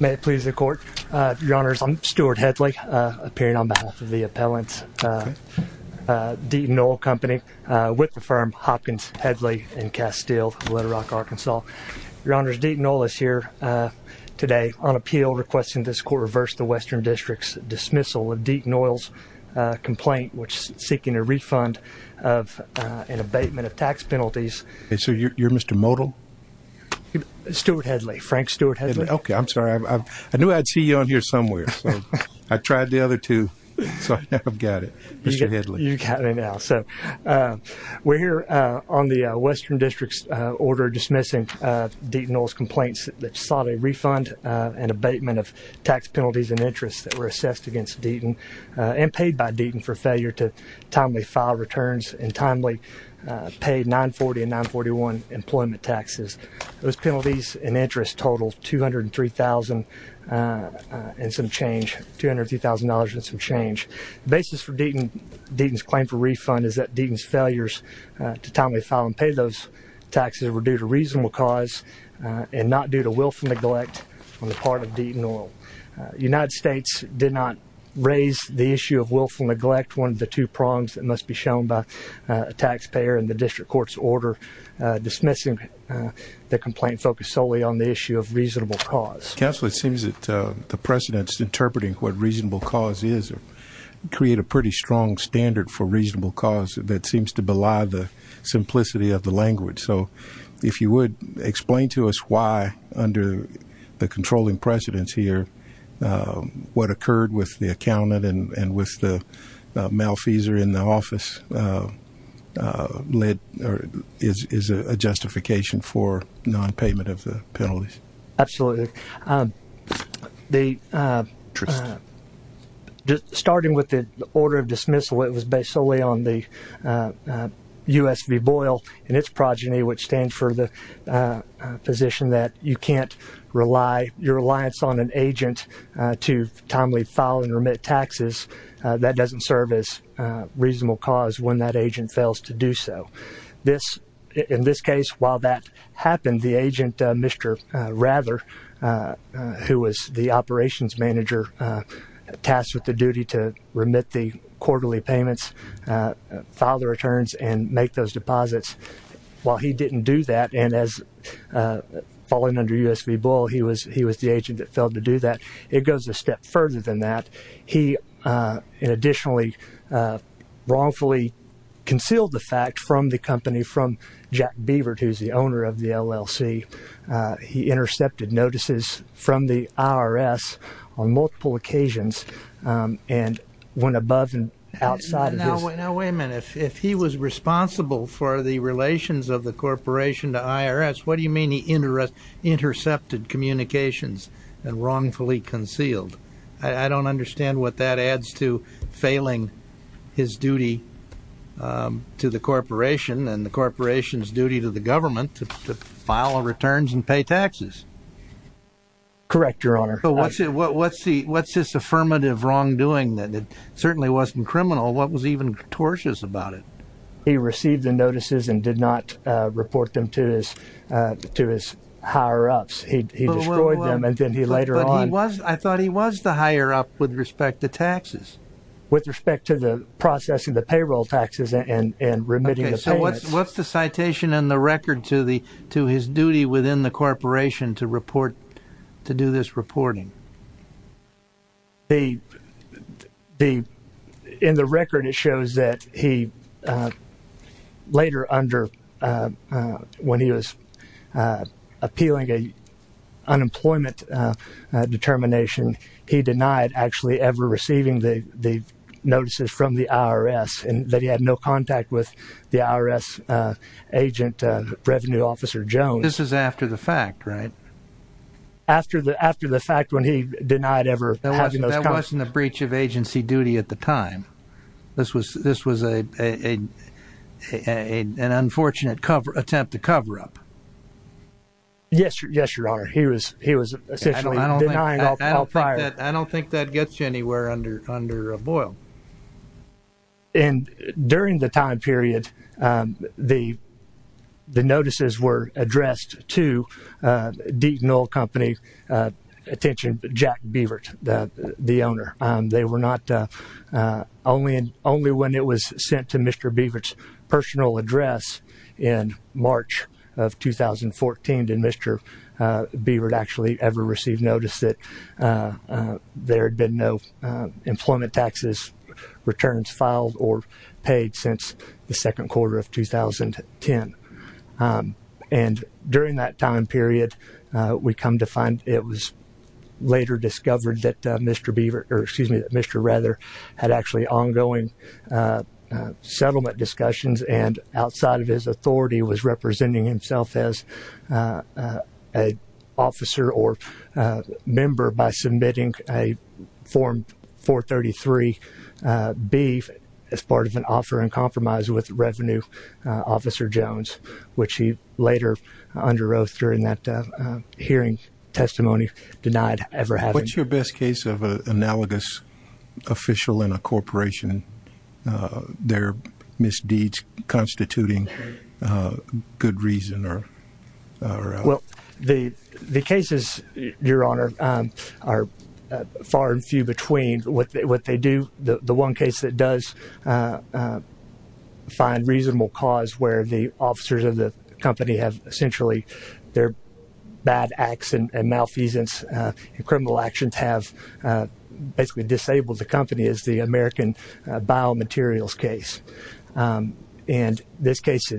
May it please the Court. Your Honors, I'm Stuart Headley, appearing on behalf of the appellant's Deaton Oil Company with the firm Hopkins, Headley & Castile, Little Rock, Arkansas. Your Honors, Deaton Oil is here today on appeal requesting this Court reverse the Western District's dismissal of Deaton Oil's complaint which is seeking a refund of an abatement of tax penalties. So you're Mr. Modell? Stuart Headley. Frank Stuart Headley. Okay, I'm sorry. I knew I'd see you on here somewhere. I tried the other two, so I've got it. Mr. Headley. You got me now. So we're here on the Western District's order dismissing Deaton Oil's complaints that sought a refund and abatement of tax penalties and interests that were assessed against Deaton and paid by Deaton for failure to timely file returns and timely pay 940 and 941 employment taxes. Those penalties and interest totals $203,000 and some change. $203,000 and some change. The basis for Deaton's claim for refund is that Deaton's failures to timely file and pay those taxes were due to reasonable cause and not due to willful neglect on the part of Deaton Oil. The United States did not raise the issue of willful neglect, one of the two prongs that must be shown by a taxpayer in the district court's order dismissing the complaint focused solely on the issue of reasonable cause. Counsel, it seems that the precedents interpreting what reasonable cause is create a pretty strong standard for reasonable cause that seems to belie the simplicity of the language. So if you would explain to us why under the controlling precedents here what occurred with the accountant and with the male fees are in the office led or is a justification for non-payment of the penalties. Absolutely. The starting with the order of dismissal it was based solely on the US v. Boyle and its progeny which stands for the position that you can't rely your reliance on an agent to timely file and remit taxes that doesn't serve as reasonable cause when that agent fails to do so. In this case while that happened the agent Mr. Rather who was the operations manager tasked with the duty to remit the quarterly payments, file the returns and make those deposits while he didn't do that and as fallen under US v. Boyle he was he was the agent that failed to do that. It goes a step further than that. He additionally wrongfully concealed the fact from the company from Jack Beaver who's the owner of the LLC. He intercepted notices from the IRS on multiple occasions and went above and outside. Now wait a minute. If he was responsible for the relations of the corporation to IRS what do you mean he intercepted communications and wrongfully concealed? I don't understand what that adds to failing his duty to the corporation and the corporation's duty to the government to file returns and pay taxes. Correct your honor. What's this affirmative wrongdoing that certainly wasn't criminal? What was even tortious about it? He received the notices and did not report them to his higher-ups. He destroyed them and then he later on... I thought he was the higher-up with respect to taxes. With respect to the processing the payroll taxes and remitting the payments. So what's the citation in the record to his duty within the corporation to report to do this reporting? In the record it shows that he later under when he was appealing an unemployment determination he denied actually ever receiving the notices from the IRS and that he had no contact with the IRS agent revenue officer Jones. This is after the fact right? After the fact when he denied ever having those contacts. That wasn't a breach of agency duty at the time. This was an unfortunate attempt to cover up. Yes your honor. He was essentially denying all prior. I don't think that gets you anywhere under a boil. And during the time period the notices were addressed to Deaton Oil Company attention Jack Beavert the owner. They were not only when it was sent to Mr. Beavert's personal address in March of 2014 did Mr. Beavert actually ever receive notice that there had been no employment taxes returns filed or paid since the second quarter of 2010. And during that time period we come to find it was later discovered that Mr. Beavert or excuse me Mr. Rather had actually ongoing settlement discussions and outside of his authority was representing himself as a officer or member by submitting a form 433B as part of an offer and compromise with revenue officer Jones which he later underwrote during that hearing testimony denied ever having. What's your best case of an analogous official in a corporation their misdeeds constituting good reason or well the the cases your honor are far and few between what they do the one case that does find reasonable cause where the officers of the company have essentially their bad acts and malfeasance and criminal actions have basically disabled the company is the American biomaterials case and this case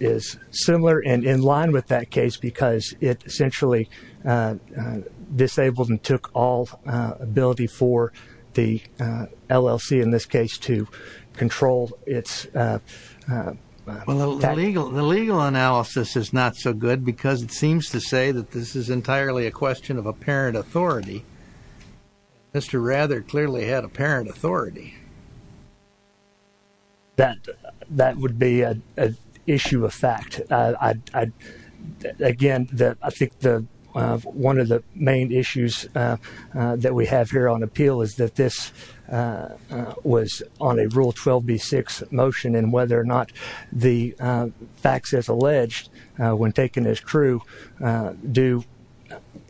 is similar and in line with that case because it essentially disabled and took all ability for the LLC in this case to control its legal analysis is not so good because it seems to say that this is entirely a question of a parent authority. Mr. Rather clearly had a that that would be an issue of fact I again that I think the one of the main issues that we have here on appeal is that this was on a rule 12b6 motion and whether or not the facts as alleged when taken as true do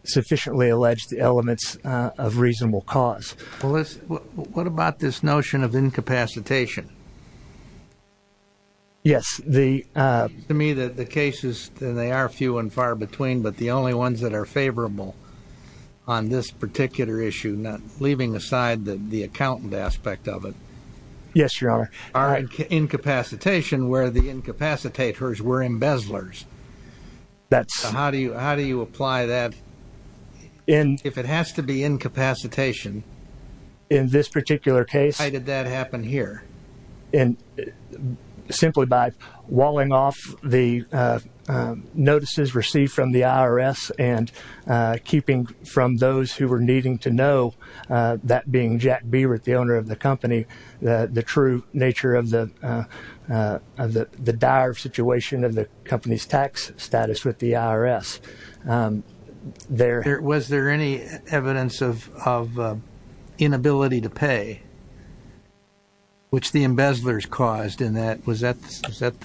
sufficiently alleged elements of reasonable cause what about this notion of incapacitation yes the to me that the cases they are few and far between but the only ones that are favorable on this particular issue not leaving aside that the accountant aspect of it yes your are incapacitation where the incapacitators were embezzlers that's how do you how do you apply that and if it has to be incapacitation in this particular case did that happen here and simply by walling off the notices received from the IRS and keeping from those who are needing to know that being Jack Beaver at the owner of the company the true nature of the of the dire situation of the company's tax status with the IRS there was there any evidence of inability to pay which the embezzlers caused in that was that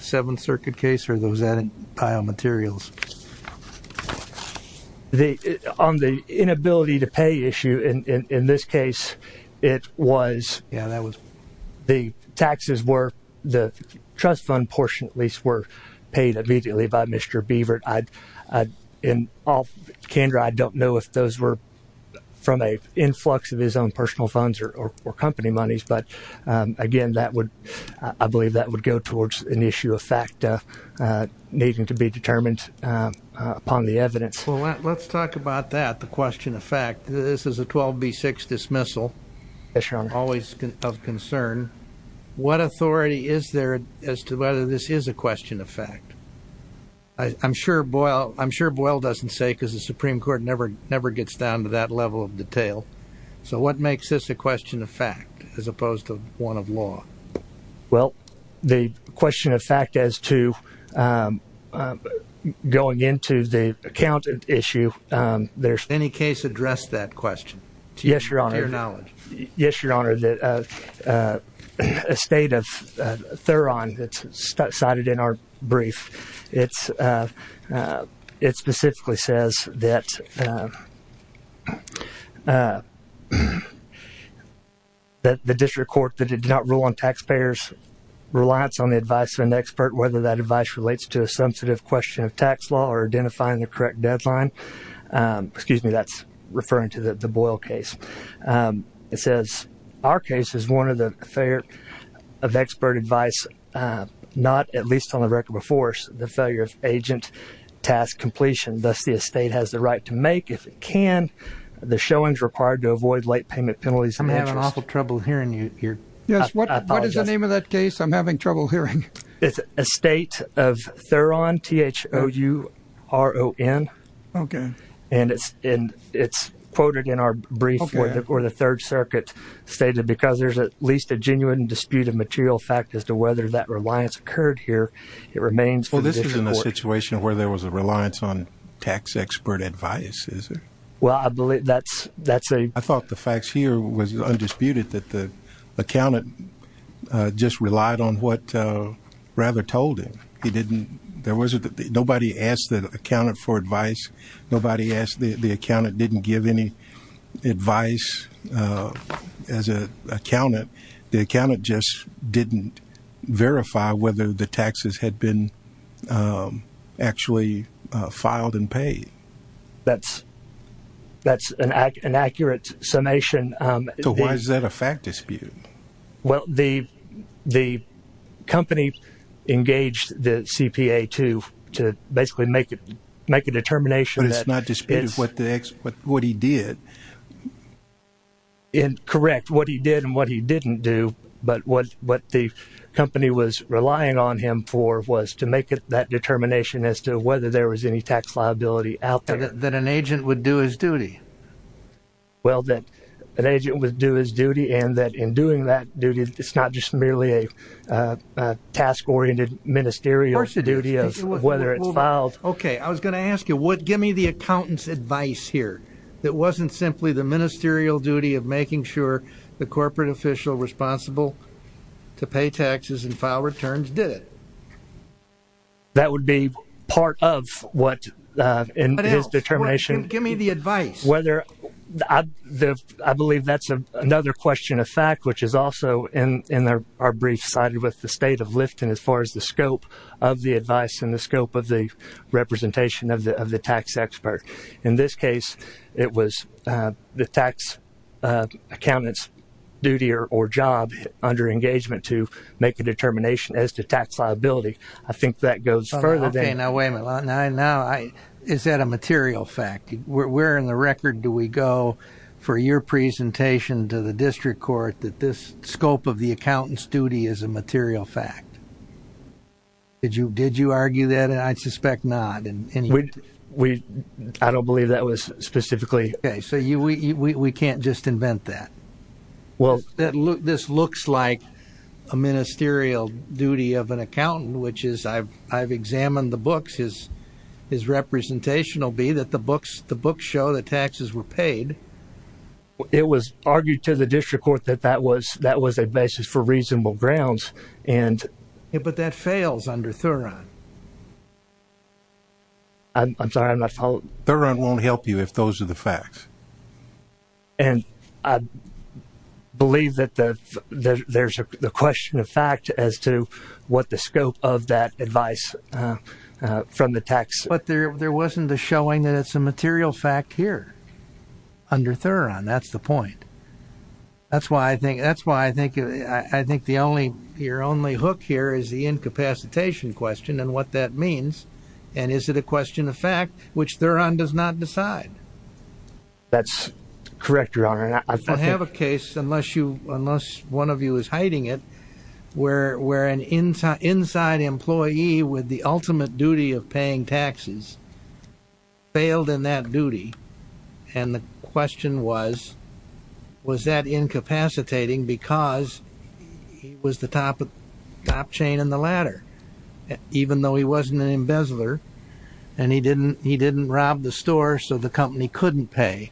seven circuit case for those added biomaterials on the inability to pay issue in this case it was that was the taxes were the trust fund portion at were paid immediately by Mr. Beaver I'd in all candor I don't know if those were from a influx of his own personal funds or company monies but again that would I believe that would go towards an issue of fact needing to be determined upon the evidence let's talk about that the question of fact this is a 12 b6 dismissal always concern what authority is there as to whether this is a question of fact I'm sure Boyle I'm sure Boyle doesn't say because the Supreme Court never never gets down to that level of detail so what makes this a question of fact as opposed to one of law well the question of fact as to go again to the account issue there's any case address that question yes you're yes your honor that a state of their on that's cited in our brief it's it specifically says that that the district court that did not rule on taxpayers reliance on the advice of an expert whether that advice relates to a sensitive question of tax law or identifying the correct deadline excuse me that's referring to the the Boyle case it says our case is one of the failure of expert advice not at least on the record before the failure of agent task completion thus the estate has the right to make if it can the showings required to avoid late payment penalties I'm having awful trouble hearing you here yes what is the name of that case I'm having trouble hearing it's a state of their own th o u r o n and it's in its quoted in our brief where the third circuit stated because there's at least a genuine disputed material fact as to whether that reliance occurred here it remains for this is in a situation where there was a reliance on tax expert advices well I believe that's that's a I thought the facts here was undisputed that the accountant just relied on what rather told him he didn't there was a nobody asked that accounted for advice nobody asked the the accountant didn't give any advice as a accountant the accountant just didn't verify whether the taxes had been actually filed and paid that's that's an act an accurate summation so why is that a fact well the the company engaged the CPA to to basically make it make a determination that it's not just what the expert what he did in correct what he did and what he didn't do but what what the company was relying on him for was to make it that determination as to whether there was any tax liability out that an agent would do his duty well that an agent would do his duty and that in doing that duty it's not just merely a task oriented ministerial duty of whether it's filed okay I was going to ask you what give me the accountants advice here that wasn't simply the ministerial duty of making sure the corporate official responsible to pay taxes and file returns did it that would be part of what in his determination give me the advice whether I believe that's a another question of fact which is also in in there are brief sided with the state of lifting as far as the scope of the advice in the scope of the representation of the of the tax expert in this case it was the tax accountants duty or job under engagement to make a determination as to tax liability I think that goes further than I know I is that a material fact we're in the record do we go for your presentation to the district court that this scope of the accountants duty is a material fact did you did you argue that and I suspect not and we I don't believe that was specifically so you we can't just invent that well that look this looks like a ministerial duty of an accountant which is I've I've examined the books is is representational be that the books the book show the taxes were paid it was argued to the district court that that was that was a basis for reasonable grounds and it but that fails under thorough I'm sorry my fault there and won't help you if those are the facts and I believe that that there's a question of fact as to what the scope of that advice from the tax but there there wasn't a showing that it's a material fact here under Theron that's the point that's why I think that's why I think I think the only your only hook here is the incapacitation question and what that means and is it a question of fact which they're on does not decide that's correct your honor I have a case unless you unless one of you is hiding it where where an inside employee with the ultimate duty of paying taxes failed in that duty and the question was was that incapacitating because he was the top of top chain in the ladder even though he wasn't an embezzler and he didn't he didn't rob the store so the company couldn't pay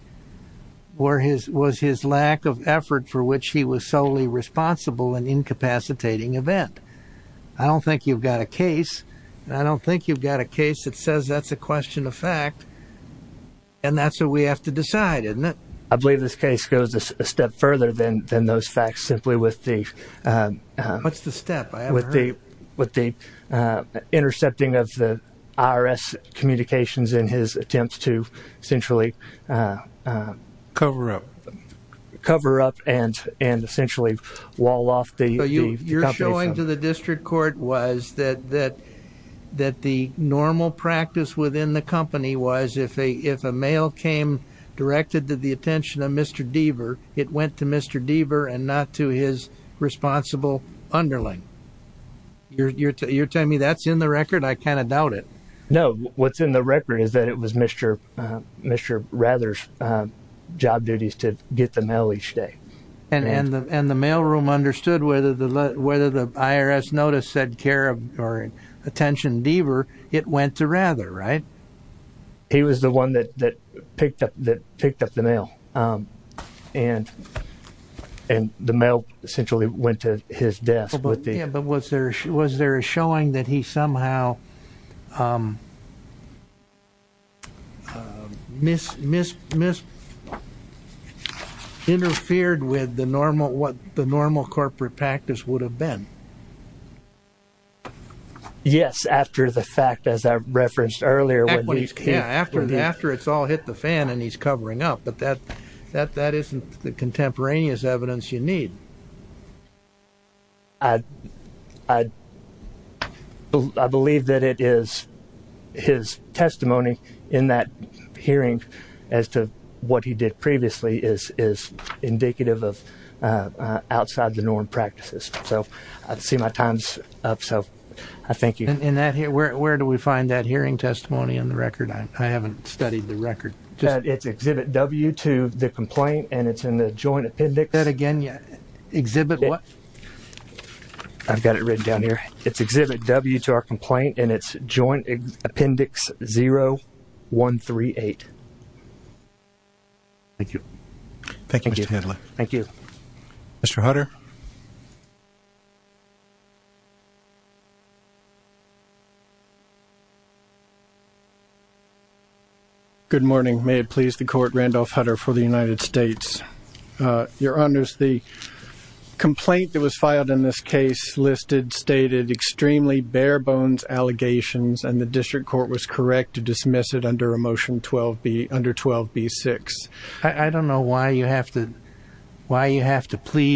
where his was his lack of effort for which he was solely responsible and incapacitating event I don't think you've got a case I don't think you've got a case that says that's a question of fact and that's what we have to decide in that I believe this case goes a step further than than those facts simply with the what's the step with the with the intercepting of the IRS communications in his attempts to cover up and essentially wall off the district court was that that that the normal practice within the company was if a if a male came directed to the attention of Mr. Deaver it went to Mr. Deaver and not to his responsible underling you're telling me that's in the record I kind of doubt it no what's in the record is that it was Mr. Mr. Rather's job duties to get the mail each day and and and the mailroom understood whether the whether the IRS notice said care of or attention Deaver it went to rather right he was the one that that picked up that picked up the mail and and the mail essentially went to his was there was there showing that he somehow miss miss miss interfered with the normal what the normal corporate practice would have been yes after the fact as I referenced earlier when he's came after after it's all hit the fan and he's covering up but that that that isn't the contemporaneous evidence you need I believe that it is his testimony in that hearing as to what he did previously is is indicative of outside the norm practices so I see my time's up so I think in that here where do we find that hearing testimony on the record I haven't studied the record that it's exhibit W to the complaint and it's in the joint appendix that again yet exhibit what I've got it read down here it's exhibit W to our complaint and it's joint appendix 0 1 3 8 thank you thank you thank you Mr. Hutter good morning may it please the court Randolph Hutter for the United States your honor's the complaint that was filed in this case listed stated extremely bare-bones allegations and the district court was correct to dismiss it under a motion 12 be under 12 b6 I don't know why you have to why you have to with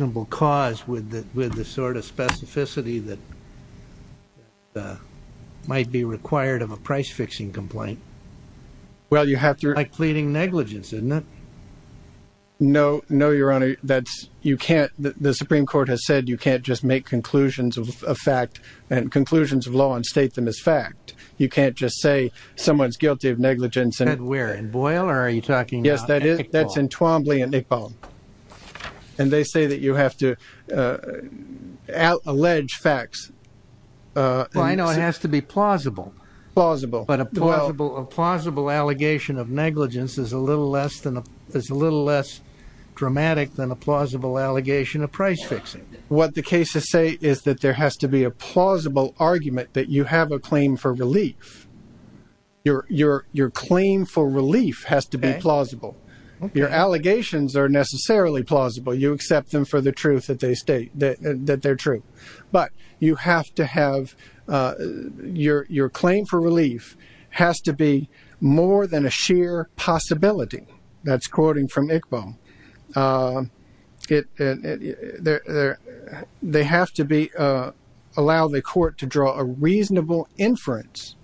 the sort of specificity that might be required of a price-fixing complaint well you have to like pleading negligence in that no no your honor that's you can't the Supreme Court has said you can't just make conclusions of a fact and conclusions of law and state them as fact you can't just say someone's guilty of negligence and we're in Boyle are you talking yes that is that's in and they say that you have to out allege facts I know it has to be plausible plausible but a plausible a plausible allegation of negligence is a little less than a little less dramatic than a plausible allegation of price-fixing what the cases say is that there has to be a plausible argument that you have a claim for relief your your your claim for relief has to be plausible your allegations are necessarily plausible you accept them for the truth that they state that they're true but you have to have your your claim for relief has to be more than a sheer possibility that's quoting from Iqbal get there they have to be allow the court to draw a reasonable inference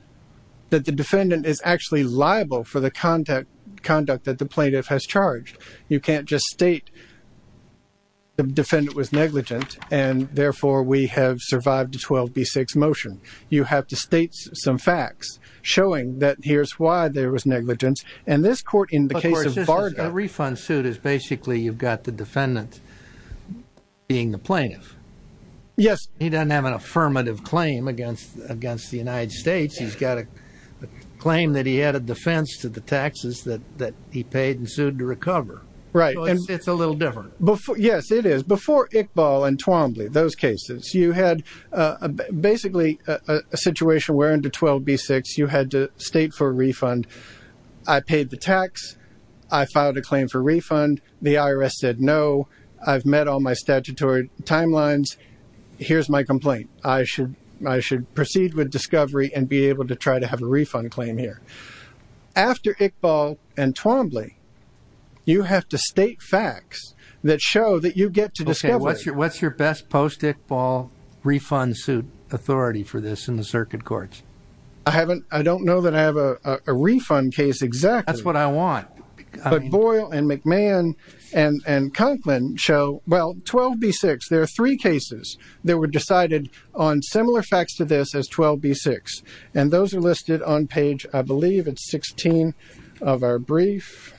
that the defendant is actually liable for the conduct conduct that the plaintiff has charged you can't just state the defendant was negligent and therefore we have survived to 12b6 motion you have to state some facts showing that here's why there was negligence and this court in the case of bargain refund suit is basically you've got the defendant being the plaintiff yes he doesn't have an affirmative claim against against the United States he's got a claim that he had a defense to the taxes that that he paid and sued to recover right and it's a little different before yes it is before Iqbal and Twombly those cases you had basically a situation where into 12b6 you had to state for a refund I paid the tax I filed a claim for refund the IRS said no I've met all my statutory timelines here's my complaint I should I should proceed with discovery and be able to try to have a refund claim here after Iqbal and Twombly you have to state facts that show that you get to discover what's your what's your best post Iqbal refund suit authority for this in the circuit courts I haven't I don't know that I have a refund case exactly that's what I want but Boyle and McMahon and they were decided on similar facts to this as 12b6 and those are listed on page I believe it's 16 of our brief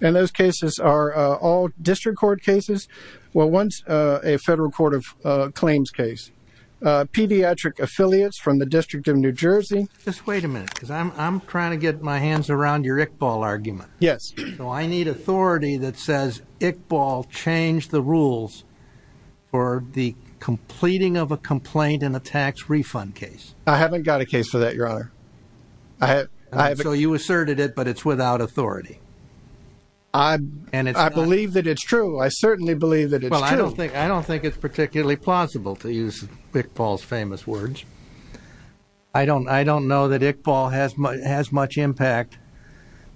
and those cases are all district court cases well once a federal court of claims case pediatric affiliates from the District of New Jersey just wait a minute because I'm trying to get my hands around your Iqbal changed the rules for the completing of a complaint in a tax refund case I haven't got a case for that your honor I have so you asserted it but it's without authority I believe that it's true I certainly believe that I don't think I don't think it's particularly plausible to use Iqbal's famous words I don't I don't know that Iqbal has much impact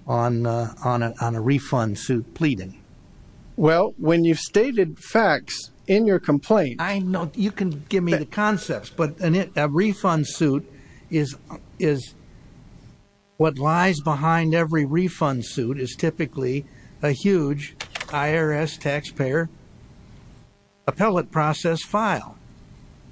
on on a refund suit pleading well when you've stated facts in your complaint I know you can give me the concepts but an it a refund suit is is what lies behind every refund suit is typically a huge IRS taxpayer appellate process file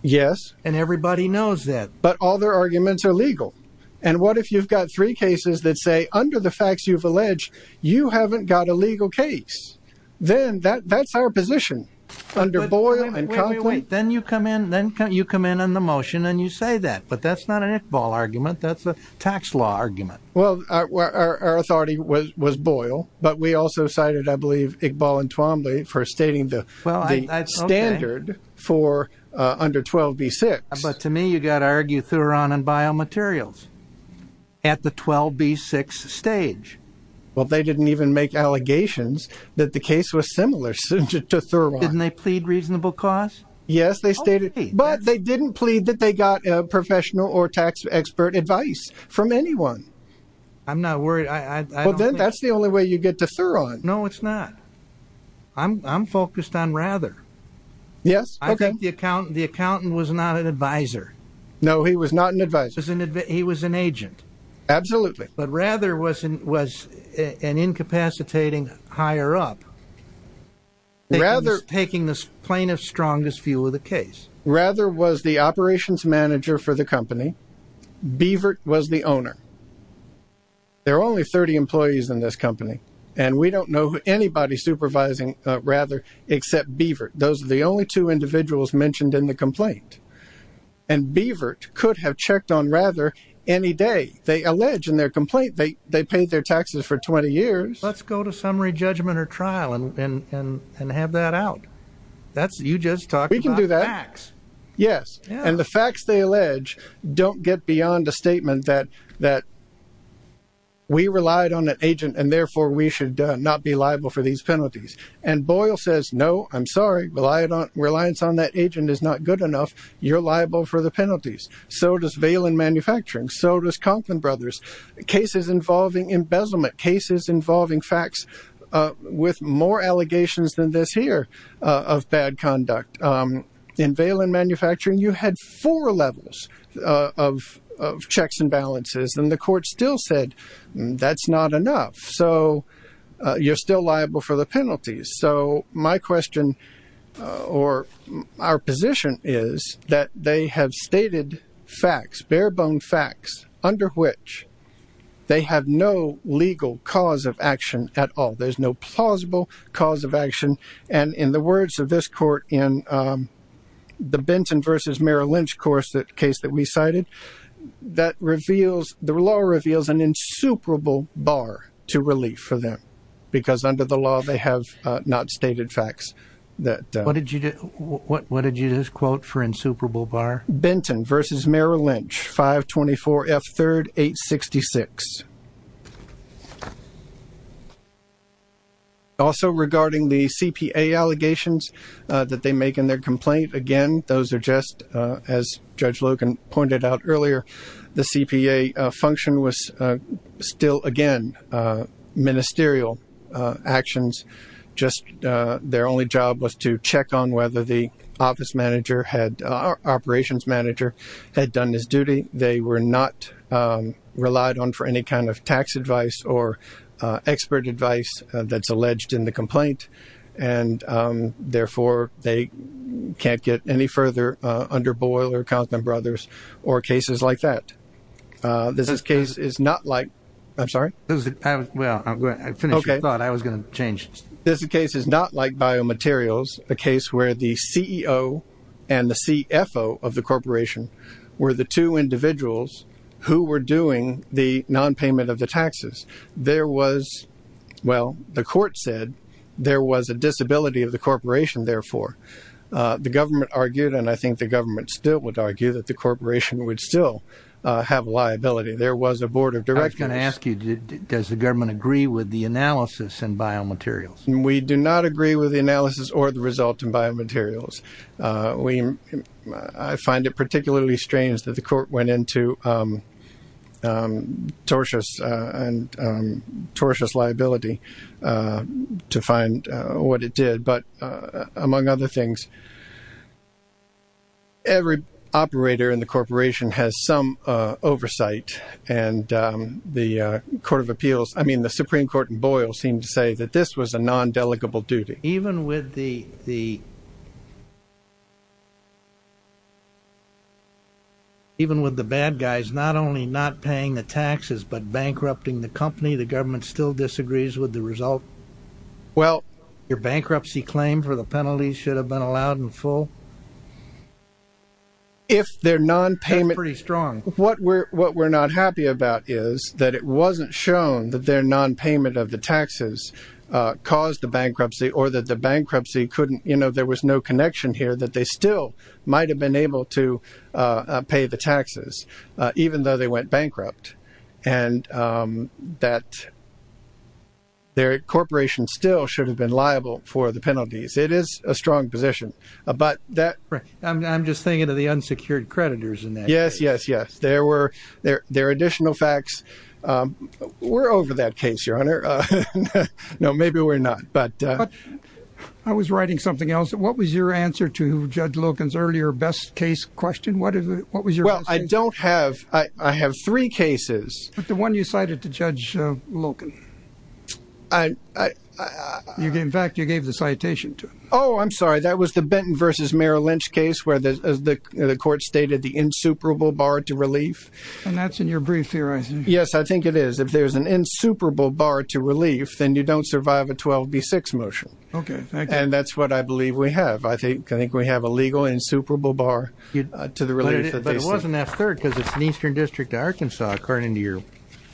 yes and everybody knows that but all their arguments are legal and what if you've got three cases that say under the facts you've alleged you haven't got a legal case then that that's our position under Boyle and then you come in then you come in on the motion and you say that but that's not an Iqbal argument that's a tax law argument well our authority was was Boyle but we also cited I believe Iqbal and Twombly for stating the standard for under 12b6 but to me you got to argue Thuron and biomaterials at the 12b6 stage well they didn't even make allegations that the case was similar to Thuron didn't they plead reasonable cost yes they stated but they didn't plead that they got a professional or tax expert advice from anyone I'm not worried well then that's the only way you get to Thuron no it's not I'm focused on rather yes I think the accountant was not an advisor no he was not an advisor he was an agent absolutely but rather wasn't was an incapacitating higher-up rather taking this plaintiff's strongest view of the case rather was the operations manager for the company Beavert was the owner there are only 30 employees in this company and we don't know anybody supervising rather except Beavert those are the only two individuals mentioned in the complaint and Beavert could have checked on rather any day they allege in their complaint they they paid their taxes for 20 years let's go to summary judgment or trial and and and have that out that's you just talk we can do that yes and the facts they allege don't get beyond a statement that that we relied on an agent and therefore we should not be liable for these penalties and Boyle says no I'm sorry well I don't reliance on that agent is not good enough you're liable for the penalties so does Valen manufacturing so does Conklin brothers cases involving embezzlement cases involving facts with more allegations than this here of bad conduct in Valen manufacturing you had four levels of checks and balances and the court still said that's not enough so you're still liable for the penalties so my question or our position is that they have stated facts bare-bone facts under which they have no legal cause of action at all there's no plausible cause of action and in the words of this court in the Benson vs. Merrill Lynch course that case that we cited that reveals the law reveals an insuperable bar to relief for them because under the law they have not stated facts that what did you do what what did you just quote for insuperable bar Benton vs. Merrill Lynch 524 F 3rd 866 also regarding the CPA allegations that they make in their complaint again those are just as judge Logan pointed out earlier the CPA function was still again ministerial actions just their only job was to check on whether the office manager had operations manager had done his duty they were not relied on for any kind of tax advice or expert advice that's can't get any further under boiler or cases like that this case is not like I'm sorry this case is not like biomaterials the case where the CEO and the CFO of the corporation were the two individuals who were doing the non payment of the taxes there was well the court said there was a disability of the government argued and I think the government still would argue that the corporation would still have liability there was a board of directors can ask you did it does the government agree with the analysis and biomaterials we do not agree with the analysis or the result in biomaterials we find it particularly strange that the court went into tortuous and tortuous liability to find what it did but among other things every operator in the corporation has some oversight and the Court of Appeals I mean the Supreme Court and Boyle seem to say that this was a non-delegable duty even with the even with the bad guys not only not paying the taxes but bankrupting the company the government still disagrees with the result well your bankruptcy claim for the penalties should have been allowed in full if they're non-payment pretty strong what we're what we're not happy about is that it wasn't shown that their non-payment of the taxes caused the bankruptcy or that the bankruptcy couldn't you know there was no connection here that they still might have been able to pay the their corporation still should have been liable for the penalties it is a strong position about that I'm just thinking of the unsecured creditors and yes yes yes there were there there additional facts we're over that case your honor no maybe we're not but I was writing something else what was your answer to judge Logan's earlier best case question what is it what was your well I don't have I have three cases but the one you cited to judge Logan I in fact you gave the citation to oh I'm sorry that was the Benton vs. Merrill Lynch case where the court stated the insuperable bar to relief and that's in your brief theorizing yes I think it is if there's an insuperable bar to relief then you don't survive a 12b6 motion okay and that's what I believe we have I think I think we have a legal insuperable bar you'd to the related but it wasn't that third because it's an Eastern District of Arkansas according to your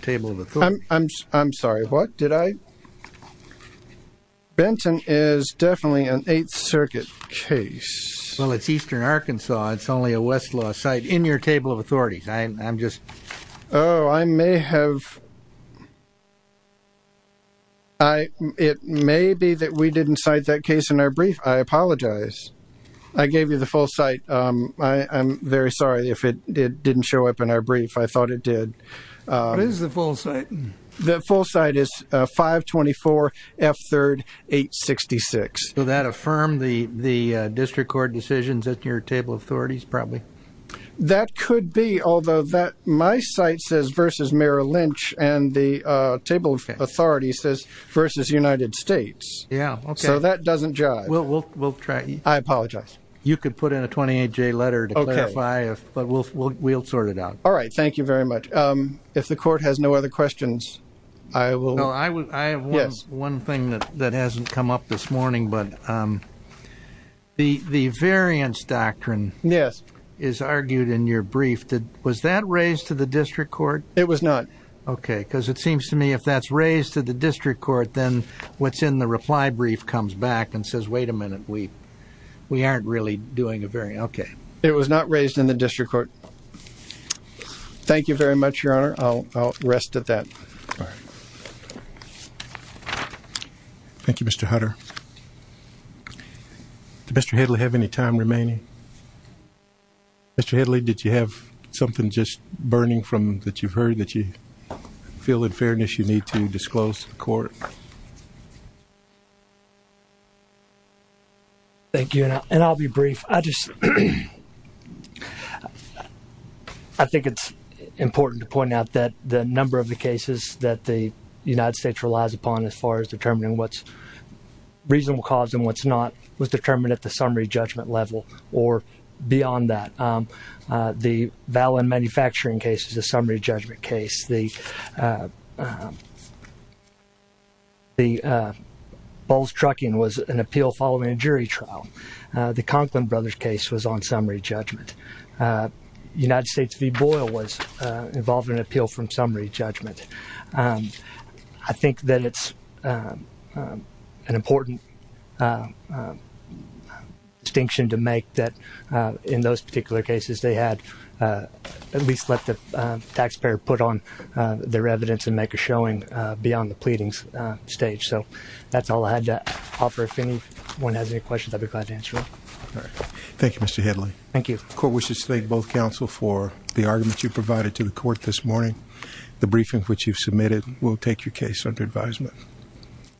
table of authority I'm sorry what did I Benton is definitely an Eighth Circuit case well it's Eastern Arkansas it's only a Westlaw site in your table of authorities I'm just oh I may have I it may be that we didn't cite that case in our brief I gave you the full site I'm very sorry if it did didn't show up in our brief I thought it did the full site is 524 f3rd 866 so that affirmed the the district court decisions at your table of authorities probably that could be although that my site says versus Merrill Lynch and the table of authorities says versus United States yeah so that doesn't drive well we'll try you I apologize you could put in a 28 J letter to clarify if but we'll sort it out all right thank you very much if the court has no other questions I will I would I have one thing that that hasn't come up this morning but the the variance doctrine yes is argued in your brief that was that raised to the district court it was not okay because it seems to me if that's raised to the district court then what's in the reply brief comes back and says wait a minute we we aren't really doing a very okay it was not raised in the district court thank you very much your honor I'll rest at that thank you mr. Hutter mr. Hedley have any time remaining mr. Hedley did you have something just burning from that you've heard that you feel in fairness you need to disclose court thank you and I'll be brief I just I think it's important to point out that the number of the cases that the United States relies upon as far as determining what's reasonable cause and what's not was determined at the summary judgment level or beyond that the valid manufacturing cases a the balls trucking was an appeal following a jury trial the Conklin brothers case was on summary judgment United States v. Boyle was involved in appeal from summary judgment I think that it's an important distinction to make that in those particular cases they had at least let the taxpayer put on their evidence and make a showing beyond the pleadings stage so that's all I had to offer if anyone has any questions I'd be glad to answer thank you mr. Hedley thank you court wishes to thank both counsel for the argument you provided to the court this morning the briefings which you've submitted will take your case under advisement